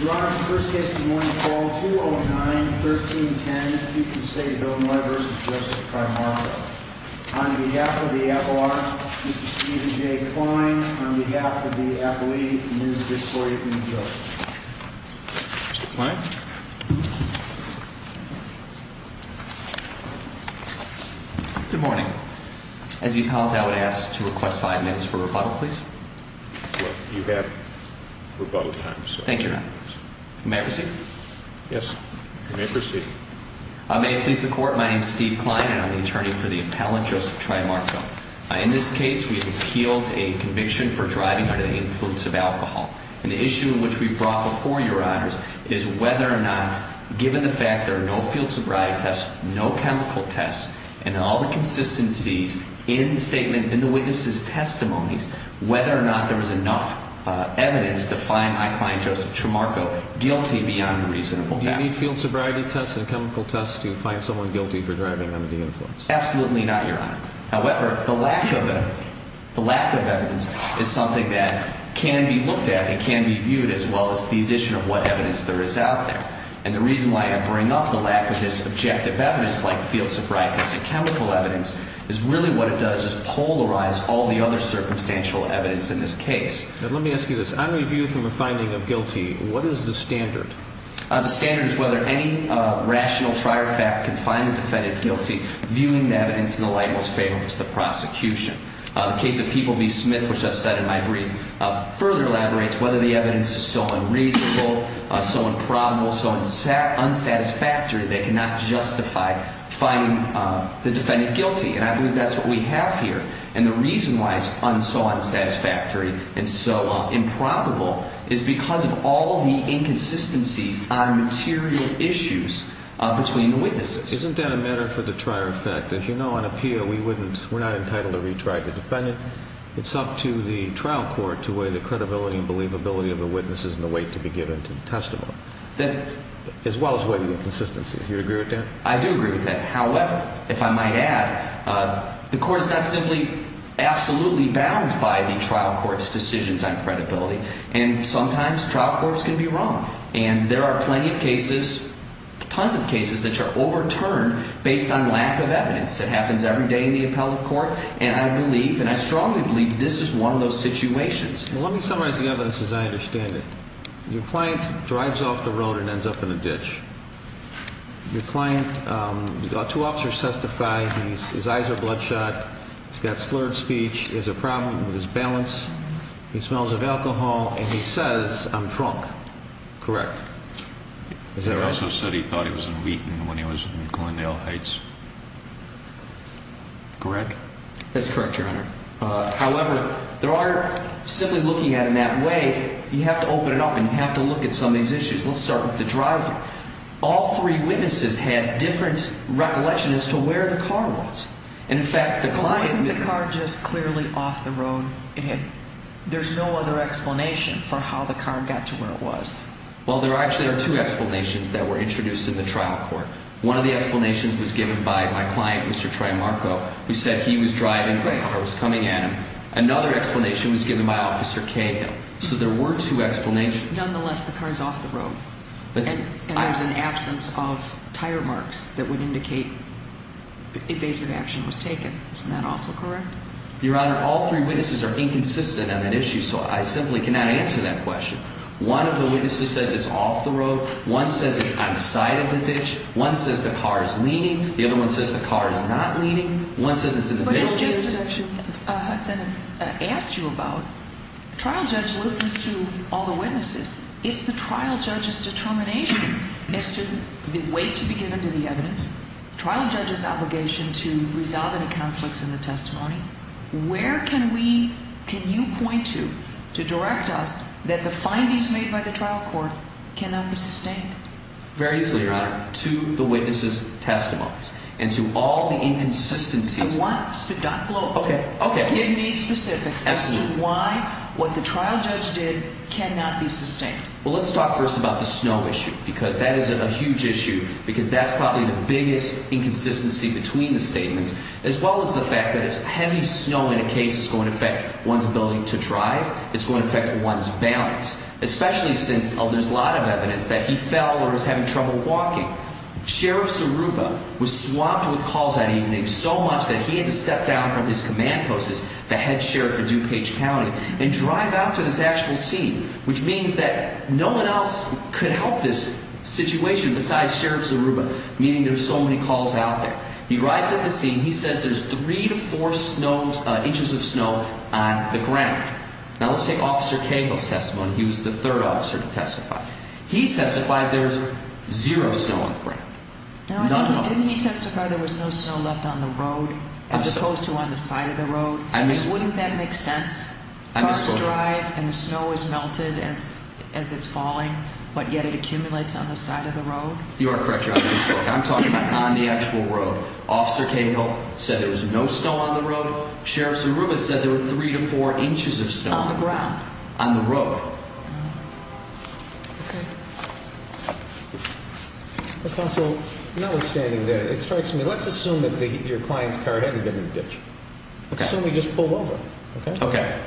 Your Honor, the first case of the morning, call 209-1310. You can say Bill Noye v. Joseph Trimarco. On behalf of the FLR, Mr. Stephen J. Kline. On behalf of the FLE, Ms. Victoria B. Jones. Mr. Kline? Good morning. As the appellate, I would ask to request five minutes for rebuttal, please. You have rebuttal time, sir. Thank you, Your Honor. May I proceed? Yes, you may proceed. May it please the Court, my name is Steve Kline and I'm the attorney for the appellate, Joseph Trimarco. In this case, we have appealed a conviction for driving under the influence of alcohol. And the issue which we brought before Your Honors is whether or not, given the fact there are no field sobriety tests, no chemical tests, and all the consistencies in the statement, in the witness' testimonies, whether or not there was enough evidence to find my client, Joseph Trimarco, guilty beyond reasonable doubt. Do you need field sobriety tests and chemical tests to find someone guilty for driving under the influence? Absolutely not, Your Honor. However, the lack of evidence is something that can be looked at and can be viewed as well as the addition of what evidence there is out there. And the reason why I bring up the lack of this objective evidence, like field sobriety and chemical evidence, is really what it does is polarize all the other circumstantial evidence in this case. Let me ask you this. On review from a finding of guilty, what is the standard? The standard is whether any rational trier fact can find the defendant guilty, viewing the evidence in the light most favorable to the prosecution. The case of People v. Smith, which I've said in my brief, further elaborates whether the evidence is so unreasonable, so improbable, so unsatisfactory that they cannot justify finding the defendant guilty. And I believe that's what we have here. And the reason why it's so unsatisfactory and so improbable is because of all the inconsistencies on material issues between the witnesses. Isn't that a matter for the trier effect? As you know, on a Peo, we're not entitled to retry the defendant. It's up to the trial court to weigh the credibility and believability of the witnesses and the weight to be given to the testimony, as well as weigh the inconsistencies. Do you agree with that? I do agree with that. However, if I might add, the court is not simply absolutely bound by the trial court's decisions on credibility. And sometimes trial courts can be wrong. And there are plenty of cases, tons of cases, that are overturned based on lack of evidence. It happens every day in the appellate court. And I believe, and I strongly believe, this is one of those situations. Well, let me summarize the evidence as I understand it. Your client drives off the road and ends up in a ditch. Your client, two officers testify. His eyes are bloodshot. He's got slurred speech. There's a problem with his balance. He smells of alcohol. And he says, I'm drunk. Correct? He also said he thought he was in Wheaton when he was in Coindale Heights. Correct? That's correct, Your Honor. However, there are, simply looking at it in that way, you have to open it up and you have to look at some of these issues. Let's start with the driver. All three witnesses had different recollections as to where the car was. And, in fact, the client may have been. But wasn't the car just clearly off the road? There's no other explanation for how the car got to where it was. Well, there actually are two explanations that were introduced in the trial court. One of the explanations was given by my client, Mr. Tremarco, who said he was driving or was coming at him. Another explanation was given by Officer Cahill. So there were two explanations. Nonetheless, the car is off the road. And there's an absence of tire marks that would indicate evasive action was taken. Isn't that also correct? Your Honor, all three witnesses are inconsistent on that issue, so I simply cannot answer that question. One of the witnesses says it's off the road. One says it's on the side of the ditch. One says the car is leaning. The other one says the car is not leaning. One says it's in the middle of the ditch. But it's just as Hudson asked you about. Trial judge listens to all the witnesses. It's the trial judge's determination as to the weight to be given to the evidence, trial judge's obligation to resolve any conflicts in the testimony. Where can we, can you point to, to direct us that the findings made by the trial court cannot be sustained? Very easily, Your Honor. To the witnesses' testimonies and to all the inconsistencies. I want sped up. Okay. Okay. Give me specifics as to why what the trial judge did cannot be sustained. Well, let's talk first about the snow issue because that is a huge issue because that's probably the biggest inconsistency between the statements as well as the fact that heavy snow in a case is going to affect one's ability to drive. It's going to affect one's balance, especially since there's a lot of evidence that he fell or was having trouble walking. Sheriff Saruba was swamped with calls that evening so much that he had to step down from his command post as the head sheriff of DuPage County and drive out to this actual scene, which means that no one else could help this situation besides Sheriff Saruba, meaning there's so many calls out there. He arrives at the scene. He says there's three to four inches of snow on the ground. Now, let's take Officer Cagle's testimony. He was the third officer to testify. He testifies there's zero snow on the ground, none at all. Now, didn't he testify there was no snow left on the road as opposed to on the side of the road? Wouldn't that make sense? Cars drive and the snow is melted as it's falling, but yet it accumulates on the side of the road? You are correct, Your Honor. I'm talking about on the actual road. Officer Cagle said there was no snow on the road. Sheriff Saruba said there were three to four inches of snow on the ground, on the road. Counsel, notwithstanding that, it strikes me. Let's assume that your client's car hadn't been in the ditch. Okay.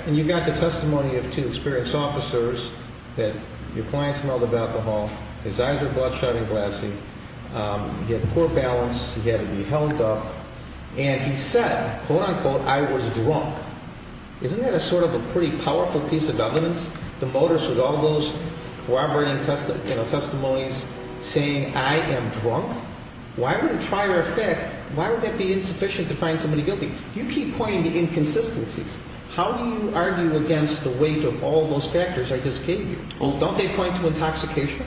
And you got the testimony of two experienced officers that your client smelled of alcohol. His eyes were bloodshot and glassy. He had poor balance. He had to be held up. And he said, quote, unquote, I was drunk. Isn't that a sort of a pretty powerful piece of evidence? The motives with all those corroborating, you know, testimonies saying I am drunk? Why would a trier of facts, why would that be insufficient to find somebody guilty? You keep pointing to inconsistencies. How do you argue against the weight of all those factors I just gave you? Don't they point to intoxication?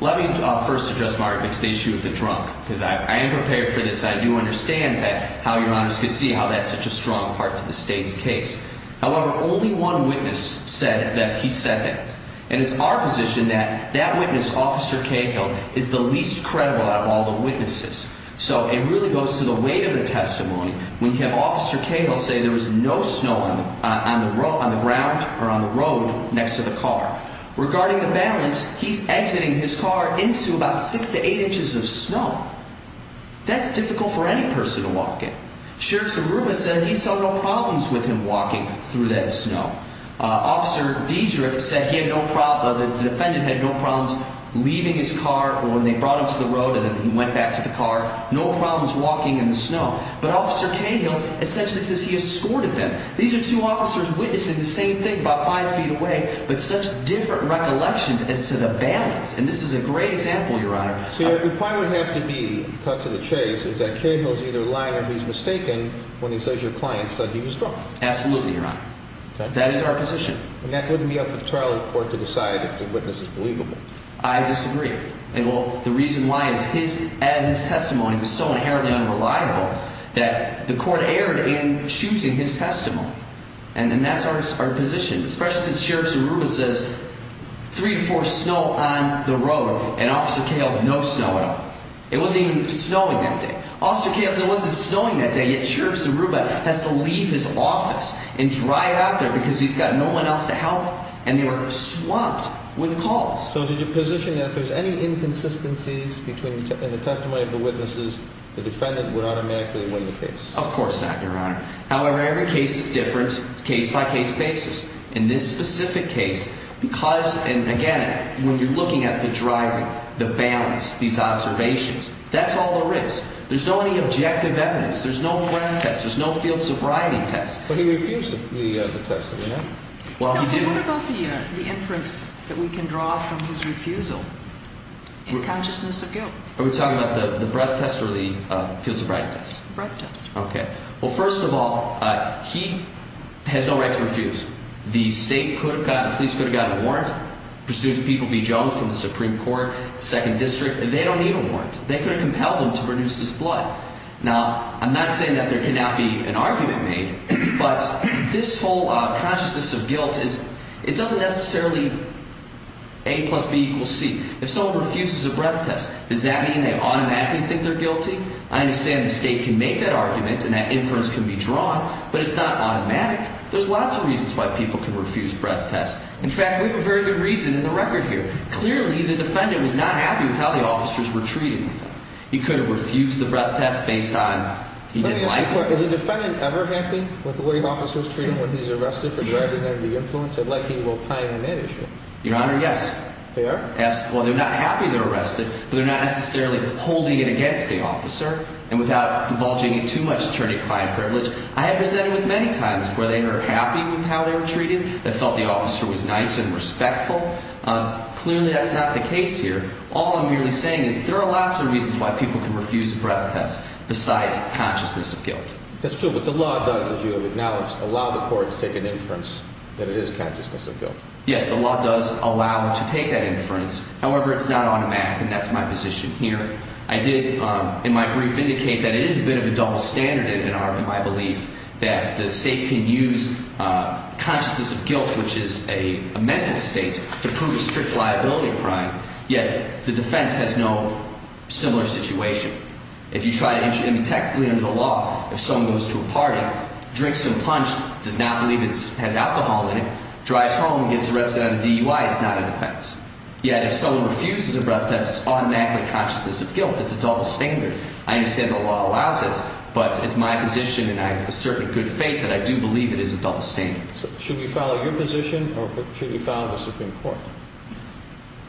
Let me first address, Mark, the issue of the drunk because I am prepared for this. I do understand that, how Your Honors could see how that's such a strong part to the state's case. However, only one witness said that he said that. And it's our position that that witness, Officer Cagle, is the least credible out of all the witnesses. So it really goes to the weight of the testimony. When you have Officer Cagle say there was no snow on the road, on the ground or on the road next to the car. Regarding the balance, he's exiting his car into about six to eight inches of snow. That's difficult for any person to walk in. Sheriff Saruba said he saw no problems with him walking through that snow. Officer Dedrick said he had no problem, the defendant had no problems leaving his car or when they brought him to the road and then he went back to the car. No problems walking in the snow. But Officer Cagle essentially says he escorted them. These are two officers witnessing the same thing about five feet away, but such different recollections as to the balance. And this is a great example, Your Honor. So what would have to be cut to the chase is that Cagle is either lying or he's mistaken when he says your client said he was drunk. Absolutely, Your Honor. That is our position. And that wouldn't be up to the trial court to decide if the witness is believable. I disagree. And the reason why is his testimony was so inherently unreliable that the court erred in choosing his testimony. And that's our position, especially since Sheriff Saruba says three to four snow on the road and Officer Cagle no snow at all. It wasn't even snowing that day. Officer Cagle said it wasn't snowing that day, yet Sheriff Saruba has to leave his office and drive out there because he's got no one else to help and they were swamped with calls. So is it your position that if there's any inconsistencies between the testimony of the witnesses, the defendant would automatically win the case? Of course not, Your Honor. However, every case is different, case by case basis. In this specific case, because, and again, when you're looking at the driving, the balance, these observations, that's all there is. There's no any objective evidence. There's no ground test. There's no field sobriety test. But he refused the test, didn't he? Well, he did. What about the inference that we can draw from his refusal in consciousness of guilt? Are we talking about the breath test or the field sobriety test? Breath test. Okay. Well, first of all, he has no right to refuse. The state could have gotten, the police could have gotten a warrant pursuant to people B. Jones from the Supreme Court, 2nd District. They don't need a warrant. They could have compelled him to produce this blood. Now, I'm not saying that there cannot be an argument made, but this whole consciousness of guilt is, it doesn't necessarily A plus B equals C. If someone refuses a breath test, does that mean they automatically think they're guilty? I understand the state can make that argument and that inference can be drawn, but it's not automatic. There's lots of reasons why people can refuse breath tests. In fact, we have a very good reason in the record here. Clearly, the defendant was not happy with how the officers were treating him. He could have refused the breath test based on he didn't like it. Let me ask you a question. Is the defendant ever happy with the way officers treat him when he's arrested for driving under the influence? I'd like you to opine on that issue. Your Honor, yes. They are? Well, they're not happy they're arrested, but they're not necessarily holding it against the officer. And without divulging it too much, attorney, client privilege, I have presented with many times where they were happy with how they were treated. They felt the officer was nice and respectful. Clearly, that's not the case here. All I'm really saying is there are lots of reasons why people can refuse a breath test besides consciousness of guilt. That's true, but the law does, as you have acknowledged, allow the court to take an inference that it is consciousness of guilt. Yes, the law does allow to take that inference. However, it's not automatic, and that's my position here. I did in my brief indicate that it is a bit of a double standard in my belief that the state can use consciousness of guilt, which is a mental state, to prove a strict liability crime. Yes, the defense has no similar situation. If you try to intervene technically under the law, if someone goes to a party, drinks some punch, does not believe it has alcohol in it, drives home, gets arrested on a DUI, it's not a defense. Yet if someone refuses a breath test, it's automatically consciousness of guilt. It's a double standard. I understand the law allows it, but it's my position and I have a certain good faith that I do believe it is a double standard. Should we follow your position or should we follow the Supreme Court?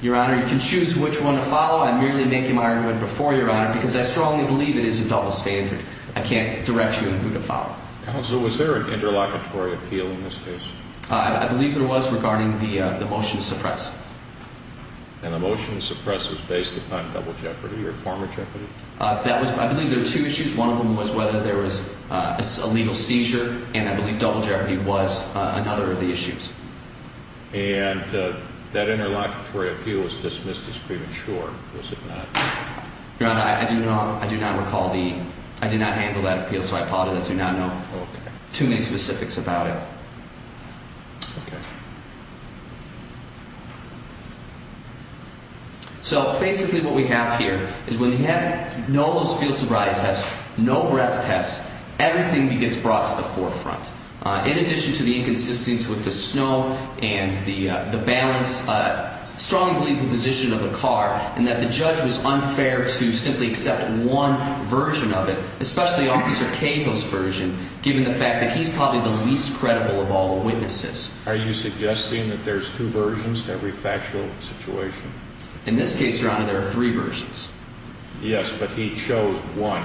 Your Honor, you can choose which one to follow. I'm merely making my argument before your Honor because I strongly believe it is a double standard. I can't direct you on who to follow. Counsel, was there an interlocutory appeal in this case? I believe there was regarding the motion to suppress. And the motion to suppress was based upon double jeopardy or former jeopardy? I believe there were two issues. One of them was whether there was a legal seizure, and I believe double jeopardy was another of the issues. And that interlocutory appeal was dismissed as premature, was it not? Your Honor, I do not recall the – I do not handle that appeal, so I do not know too many specifics about it. Okay. So basically what we have here is when you have no those field sobriety tests, no breath tests, everything gets brought to the forefront. In addition to the inconsistency with the snow and the balance, I strongly believe the position of the car and that the judge was unfair to simply accept one version of it, especially Officer Capo's version, given the fact that he's probably the least credible of all the witnesses. Are you suggesting that there's two versions to every factual situation? In this case, Your Honor, there are three versions. Yes, but he chose one.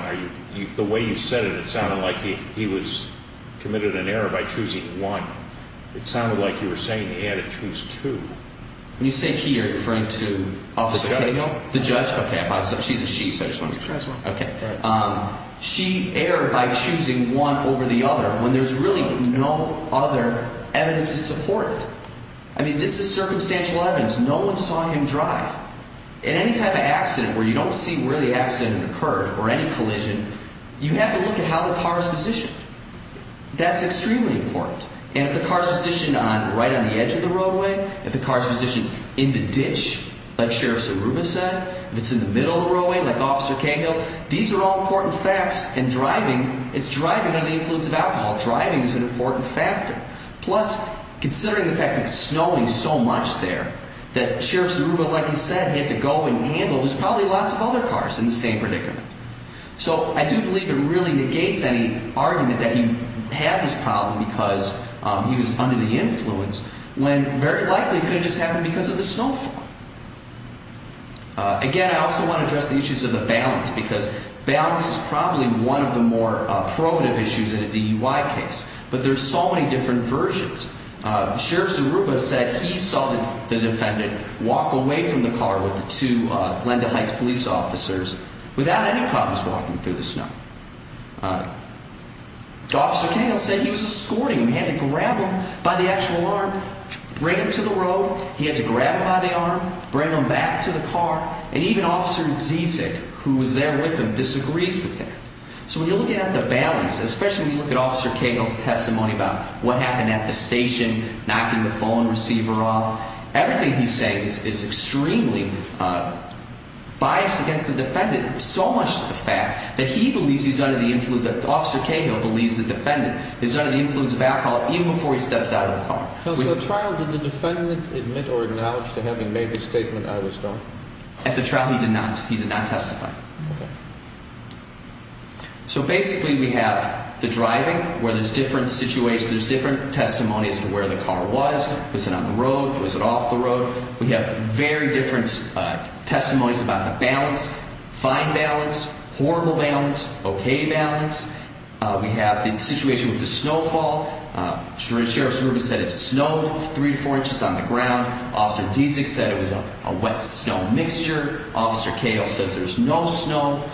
The way you said it, it sounded like he was committed an error by choosing one. It sounded like you were saying he had to choose two. When you say he, are you referring to Officer Capo? The judge. The judge? Okay, I apologize. She's a she, so I just wanted to – She has one. Okay. She erred by choosing one over the other when there's really no other evidence to support it. I mean, this is circumstantial evidence. In any type of accident where you don't see where the accident occurred or any collision, you have to look at how the car's positioned. That's extremely important. And if the car's positioned right on the edge of the roadway, if the car's positioned in the ditch, like Sheriff Saruba said, if it's in the middle of the roadway, like Officer Capo, these are all important facts, and driving – it's driving under the influence of alcohol. Driving is an important factor. Plus, considering the fact that it's snowing so much there that Sheriff Saruba, like he said, had to go and handle – there's probably lots of other cars in the same predicament. So I do believe it really negates any argument that he had this problem because he was under the influence when very likely it could have just happened because of the snowfall. Again, I also want to address the issues of the balance, because balance is probably one of the more probative issues in a DUI case. But there's so many different versions. Sheriff Saruba said he saw the defendant walk away from the car with the two Glenda Heights police officers without any problems walking through the snow. Officer Cagle said he was escorting him. He had to grab him by the actual arm, bring him to the road. He had to grab him by the arm, bring him back to the car. And even Officer Zizek, who was there with him, disagrees with that. So when you're looking at the balance, especially when you look at Officer Cagle's testimony about what happened at the station, knocking the phone receiver off, everything he's saying is extremely biased against the defendant, so much to the fact that he believes he's under the influence – Officer Cagle believes the defendant is under the influence of alcohol even before he steps out of the car. So at trial, did the defendant admit or acknowledge to having made the statement, I was drunk? At the trial, he did not. He did not testify. So basically, we have the driving, where there's different situations, there's different testimonies to where the car was. Was it on the road? Was it off the road? We have very different testimonies about the balance. Fine balance, horrible balance, okay balance. We have the situation with the snowfall. Sheriff Zuber said it snowed three to four inches on the ground. Officer Zizek said it was a wet snow mixture. Officer Cagle says there's no snow.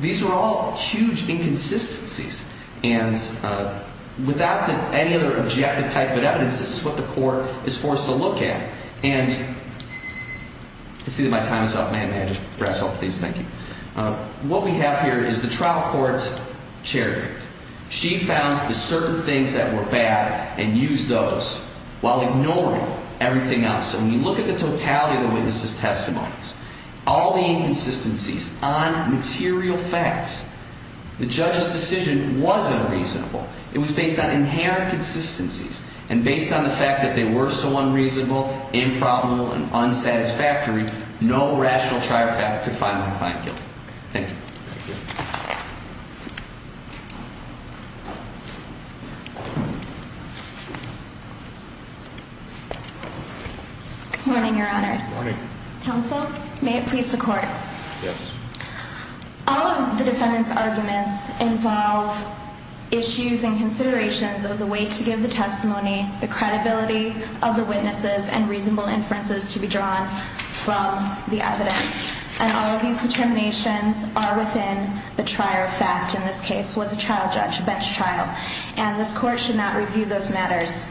These are all huge inconsistencies. And without any other objective type of evidence, this is what the court is forced to look at. And – I see that my time is up. May I just wrap up, please? Thank you. What we have here is the trial court's chariot. She found the certain things that were bad and used those while ignoring everything else. So when you look at the totality of the witness's testimonies, all the inconsistencies on material facts, the judge's decision was unreasonable. It was based on inherent consistencies. And based on the fact that they were so unreasonable, improbable, and unsatisfactory, no rational trier fact could find my client guilty. Good morning, Your Honors. Good morning. Counsel, may it please the court. Yes. All of the defendant's arguments involve issues and considerations of the way to give the testimony, the credibility of the witnesses, and reasonable inferences to be drawn from the evidence. And all of these determinations are within the trier fact in this case, was a trial judge, a bench trial. And this court should not review those matters.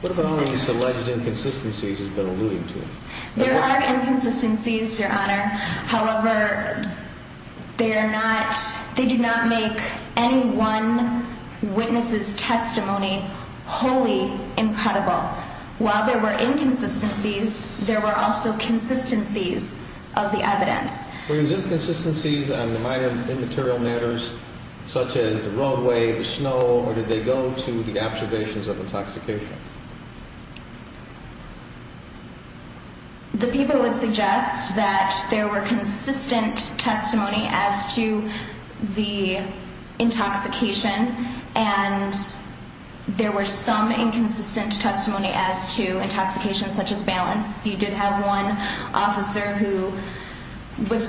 What about all of these alleged inconsistencies you've been alluding to? There are inconsistencies, Your Honor. However, they do not make any one witness's testimony wholly improbable. While there were inconsistencies, there were also consistencies of the evidence. Were those inconsistencies on the minor immaterial matters, such as the roadway, the snow, or did they go to the observations of intoxication? The people would suggest that there were consistent testimony as to the intoxication, and there were some inconsistent testimony as to intoxication, such as balance. You did have one officer who was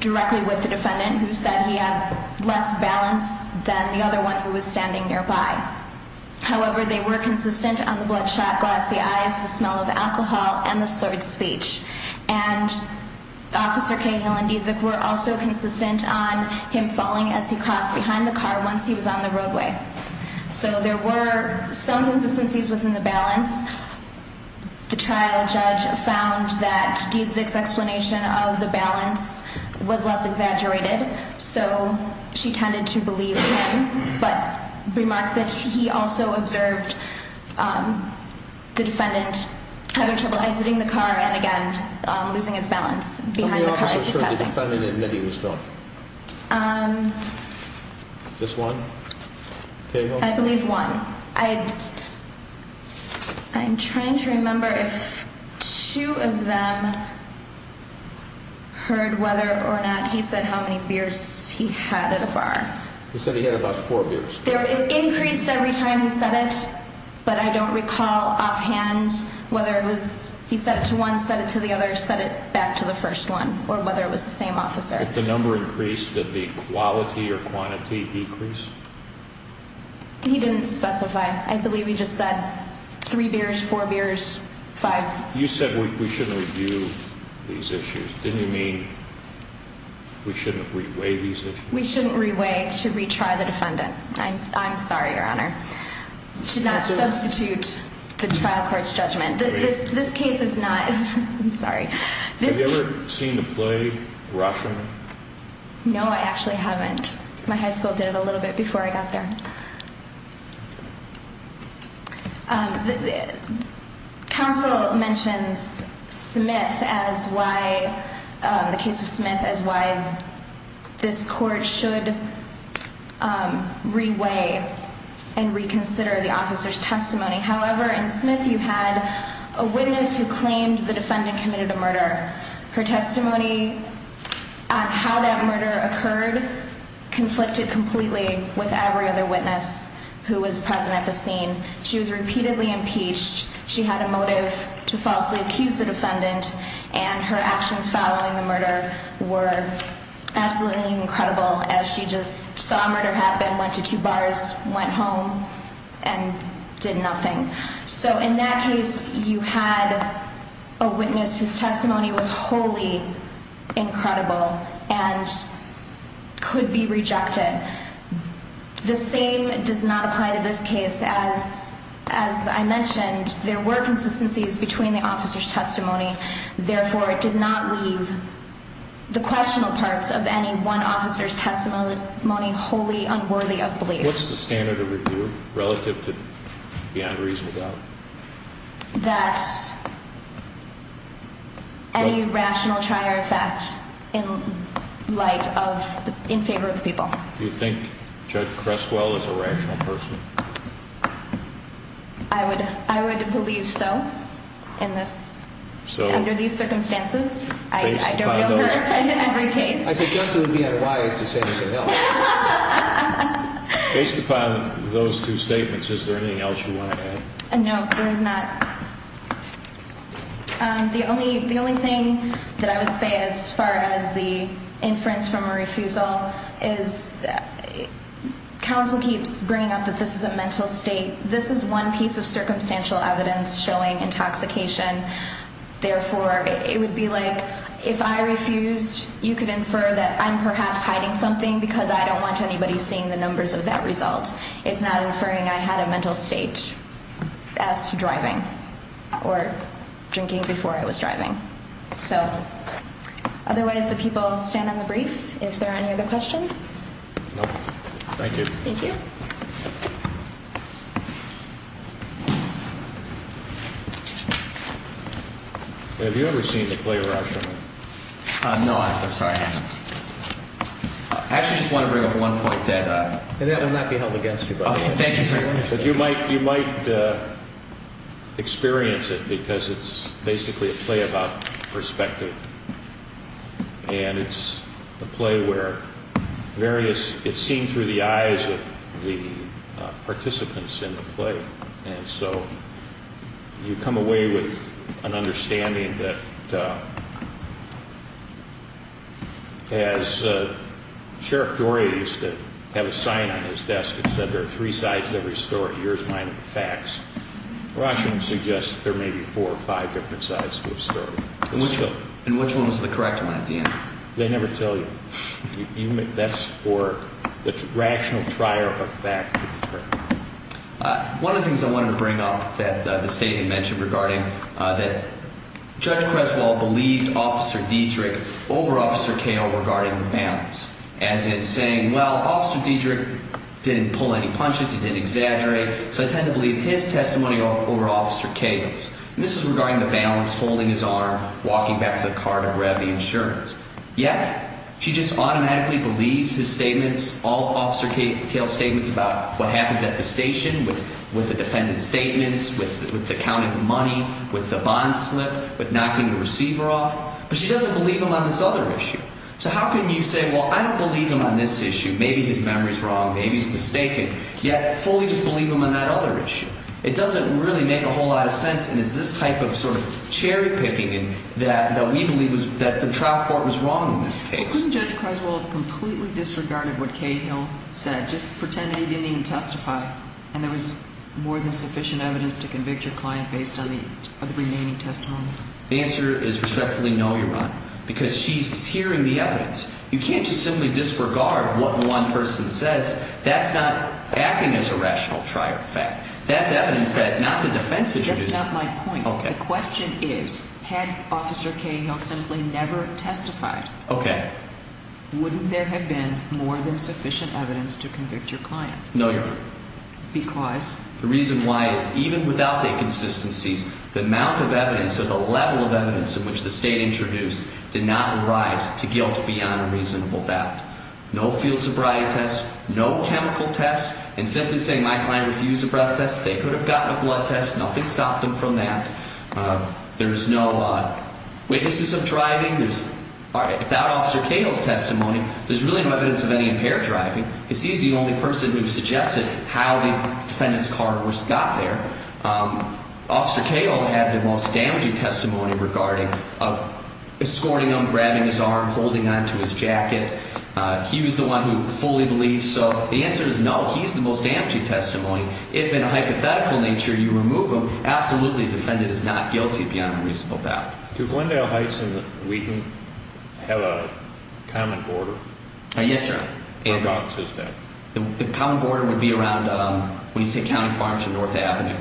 directly with the defendant who said he had less balance than the other one who was standing nearby. However, they were consistent on the bloodshot glass, the eyes, the smell of alcohol, and the slurred speech. And Officer Cahill and Diedzik were also consistent on him falling as he crossed behind the car once he was on the roadway. So there were some consistencies within the balance. The trial judge found that Diedzik's explanation of the balance was less exaggerated, so she tended to believe him, but remarked that he also observed the defendant having trouble exiting the car and, again, losing his balance behind the car as he passed him. How many officers could the defendant admit he was drunk? Just one? Cahill? I believe one. I'm trying to remember if two of them heard whether or not he said how many beers he had at a bar. He said he had about four beers. It increased every time he said it, but I don't recall offhand whether it was he said it to one, said it to the other, said it back to the first one, or whether it was the same officer. If the number increased, did the quality or quantity decrease? He didn't specify. I believe he just said three beers, four beers, five. You said we shouldn't review these issues. Didn't you mean we shouldn't reweigh these issues? We shouldn't reweigh to retry the defendant. I'm sorry, Your Honor. Should not substitute the trial court's judgment. This case is not – I'm sorry. Have you ever seen the play Russian? No, I actually haven't. My high school did it a little bit before I got there. Counsel mentions Smith as why – the case of Smith as why this court should reweigh and reconsider the officer's testimony. However, in Smith you had a witness who claimed the defendant committed a murder. Her testimony on how that murder occurred conflicted completely with every other witness who was present at the scene. She was repeatedly impeached. She had a motive to falsely accuse the defendant, and her actions following the murder were absolutely incredible, as she just saw a murder happen, went to two bars, went home, and did nothing. So in that case you had a witness whose testimony was wholly incredible and could be rejected. The same does not apply to this case. As I mentioned, there were consistencies between the officer's testimony. Therefore, it did not leave the questionable parts of any one officer's testimony wholly unworthy of belief. What's the standard of review relative to beyond reasonable doubt? That any rational try or effect in light of – in favor of the people. Do you think Judge Creswell is a rational person? I would believe so in this. Under these circumstances? I don't know her in every case. I suggest you would be unwise to say anything else. Based upon those two statements, is there anything else you want to add? No, there is not. The only thing that I would say as far as the inference from a refusal is counsel keeps bringing up that this is a mental state. This is one piece of circumstantial evidence showing intoxication. Therefore, it would be like if I refused, you could infer that I'm perhaps hiding something because I don't want anybody seeing the numbers of that result. It's not inferring I had a mental state as to driving or drinking before I was driving. Otherwise, the people stand on the brief if there are any other questions. Thank you. Thank you. Have you ever seen the play Rashomon? No, I haven't. I'm sorry. I actually just want to bring up one point that may not be held against you. Thank you very much. You might experience it because it's basically a play about perspective. It's a play where it's seen through the eyes of the participants in the play. And so you come away with an understanding that as Sheriff Dore used to have a sign on his desk that said there are three sides to every story, yours, mine, and the facts. Rashomon suggests there may be four or five different sides to a story. And which one was the correct one at the end? They never tell you. That's for the rational trier of fact to be correct. One of the things I wanted to bring up that the State had mentioned regarding that Judge Creswell believed Officer Diedrich over Officer Kahle regarding the balance. As in saying, well, Officer Diedrich didn't pull any punches. He didn't exaggerate. So I tend to believe his testimony over Officer Kahle's. And this is regarding the balance, holding his arm, walking back to the car to grab the insurance. Yet she just automatically believes his statements, all Officer Kahle's statements about what happens at the station with the defendant's statements, with the counting the money, with the bond slip, with knocking the receiver off. But she doesn't believe him on this other issue. So how can you say, well, I don't believe him on this issue? Maybe his memory is wrong. Maybe he's mistaken. Yet fully just believe him on that other issue. It doesn't really make a whole lot of sense. And it's this type of sort of cherry picking that we believe that the trial court was wrong in this case. Couldn't Judge Creswell have completely disregarded what Kahle said, just pretending he didn't even testify, and there was more than sufficient evidence to convict your client based on the remaining testimony? The answer is respectfully no, Your Honor, because she's hearing the evidence. You can't just simply disregard what one person says. That's evidence that not the defense introduced. That's not my point. The question is, had Officer Kahle simply never testified, wouldn't there have been more than sufficient evidence to convict your client? No, Your Honor. Because? The reason why is even without the consistencies, the amount of evidence or the level of evidence in which the state introduced did not rise to guilt beyond a reasonable doubt. No field sobriety tests, no chemical tests, and simply saying my client refused a breath test, they could have gotten a blood test. Nothing stopped them from that. There is no witnesses of driving. Without Officer Kahle's testimony, there's really no evidence of any impaired driving. He's the only person who suggested how the defendant's car got there. Officer Kahle had the most damaging testimony regarding escorting him, grabbing his arm, holding on to his jacket. He was the one who fully believed. So the answer is no, he's the most damaging testimony. If in a hypothetical nature you remove him, absolutely the defendant is not guilty beyond a reasonable doubt. Do Glendale Heights and Wheaton have a common border? Yes, sir. Whereabouts is that? The common border would be around, when you take County Farm to North Avenue.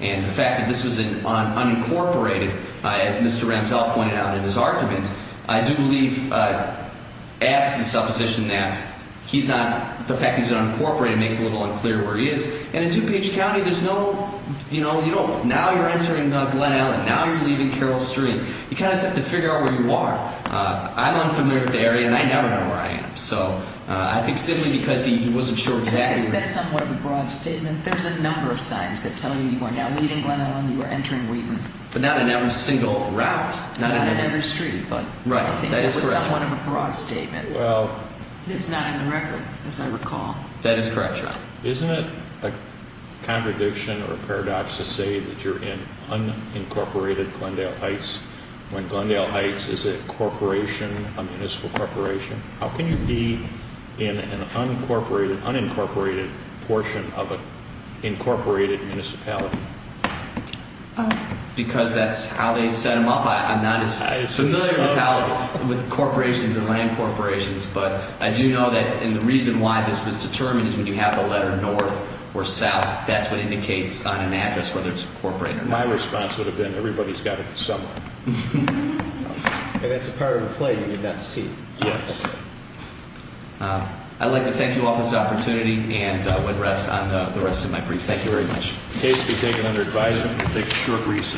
And the fact that this was unincorporated, as Mr. Ramsell pointed out in his argument, I do believe adds to the supposition that he's not, the fact that he's unincorporated makes it a little unclear where he is. And in DuPage County, there's no, you know, now you're entering Glendale and now you're leaving Carroll Street. You kind of just have to figure out where you are. I'm unfamiliar with the area and I never know where I am. So I think simply because he wasn't sure exactly. That's somewhat of a broad statement. There's a number of signs that tell you you are now leaving Glendale and you are entering Wheaton. But not in every single route. Not in every street, but I think that was somewhat of a broad statement. Well. That is correct, Your Honor. Isn't it a contradiction or paradox to say that you're in unincorporated Glendale Heights when Glendale Heights is a corporation, a municipal corporation? How can you be in an unincorporated portion of an incorporated municipality? Because that's how they set them up. I'm not as familiar with corporations and land corporations. But I do know that the reason why this was determined is when you have the letter north or south. That's what indicates on an address whether it's a corporate or not. My response would have been everybody's got it somewhere. And that's a part of the play you did not see. Yes. I'd like to thank you all for this opportunity and would rest on the rest of my brief. Thank you very much. Case to be taken under advisement. We'll take a short recess.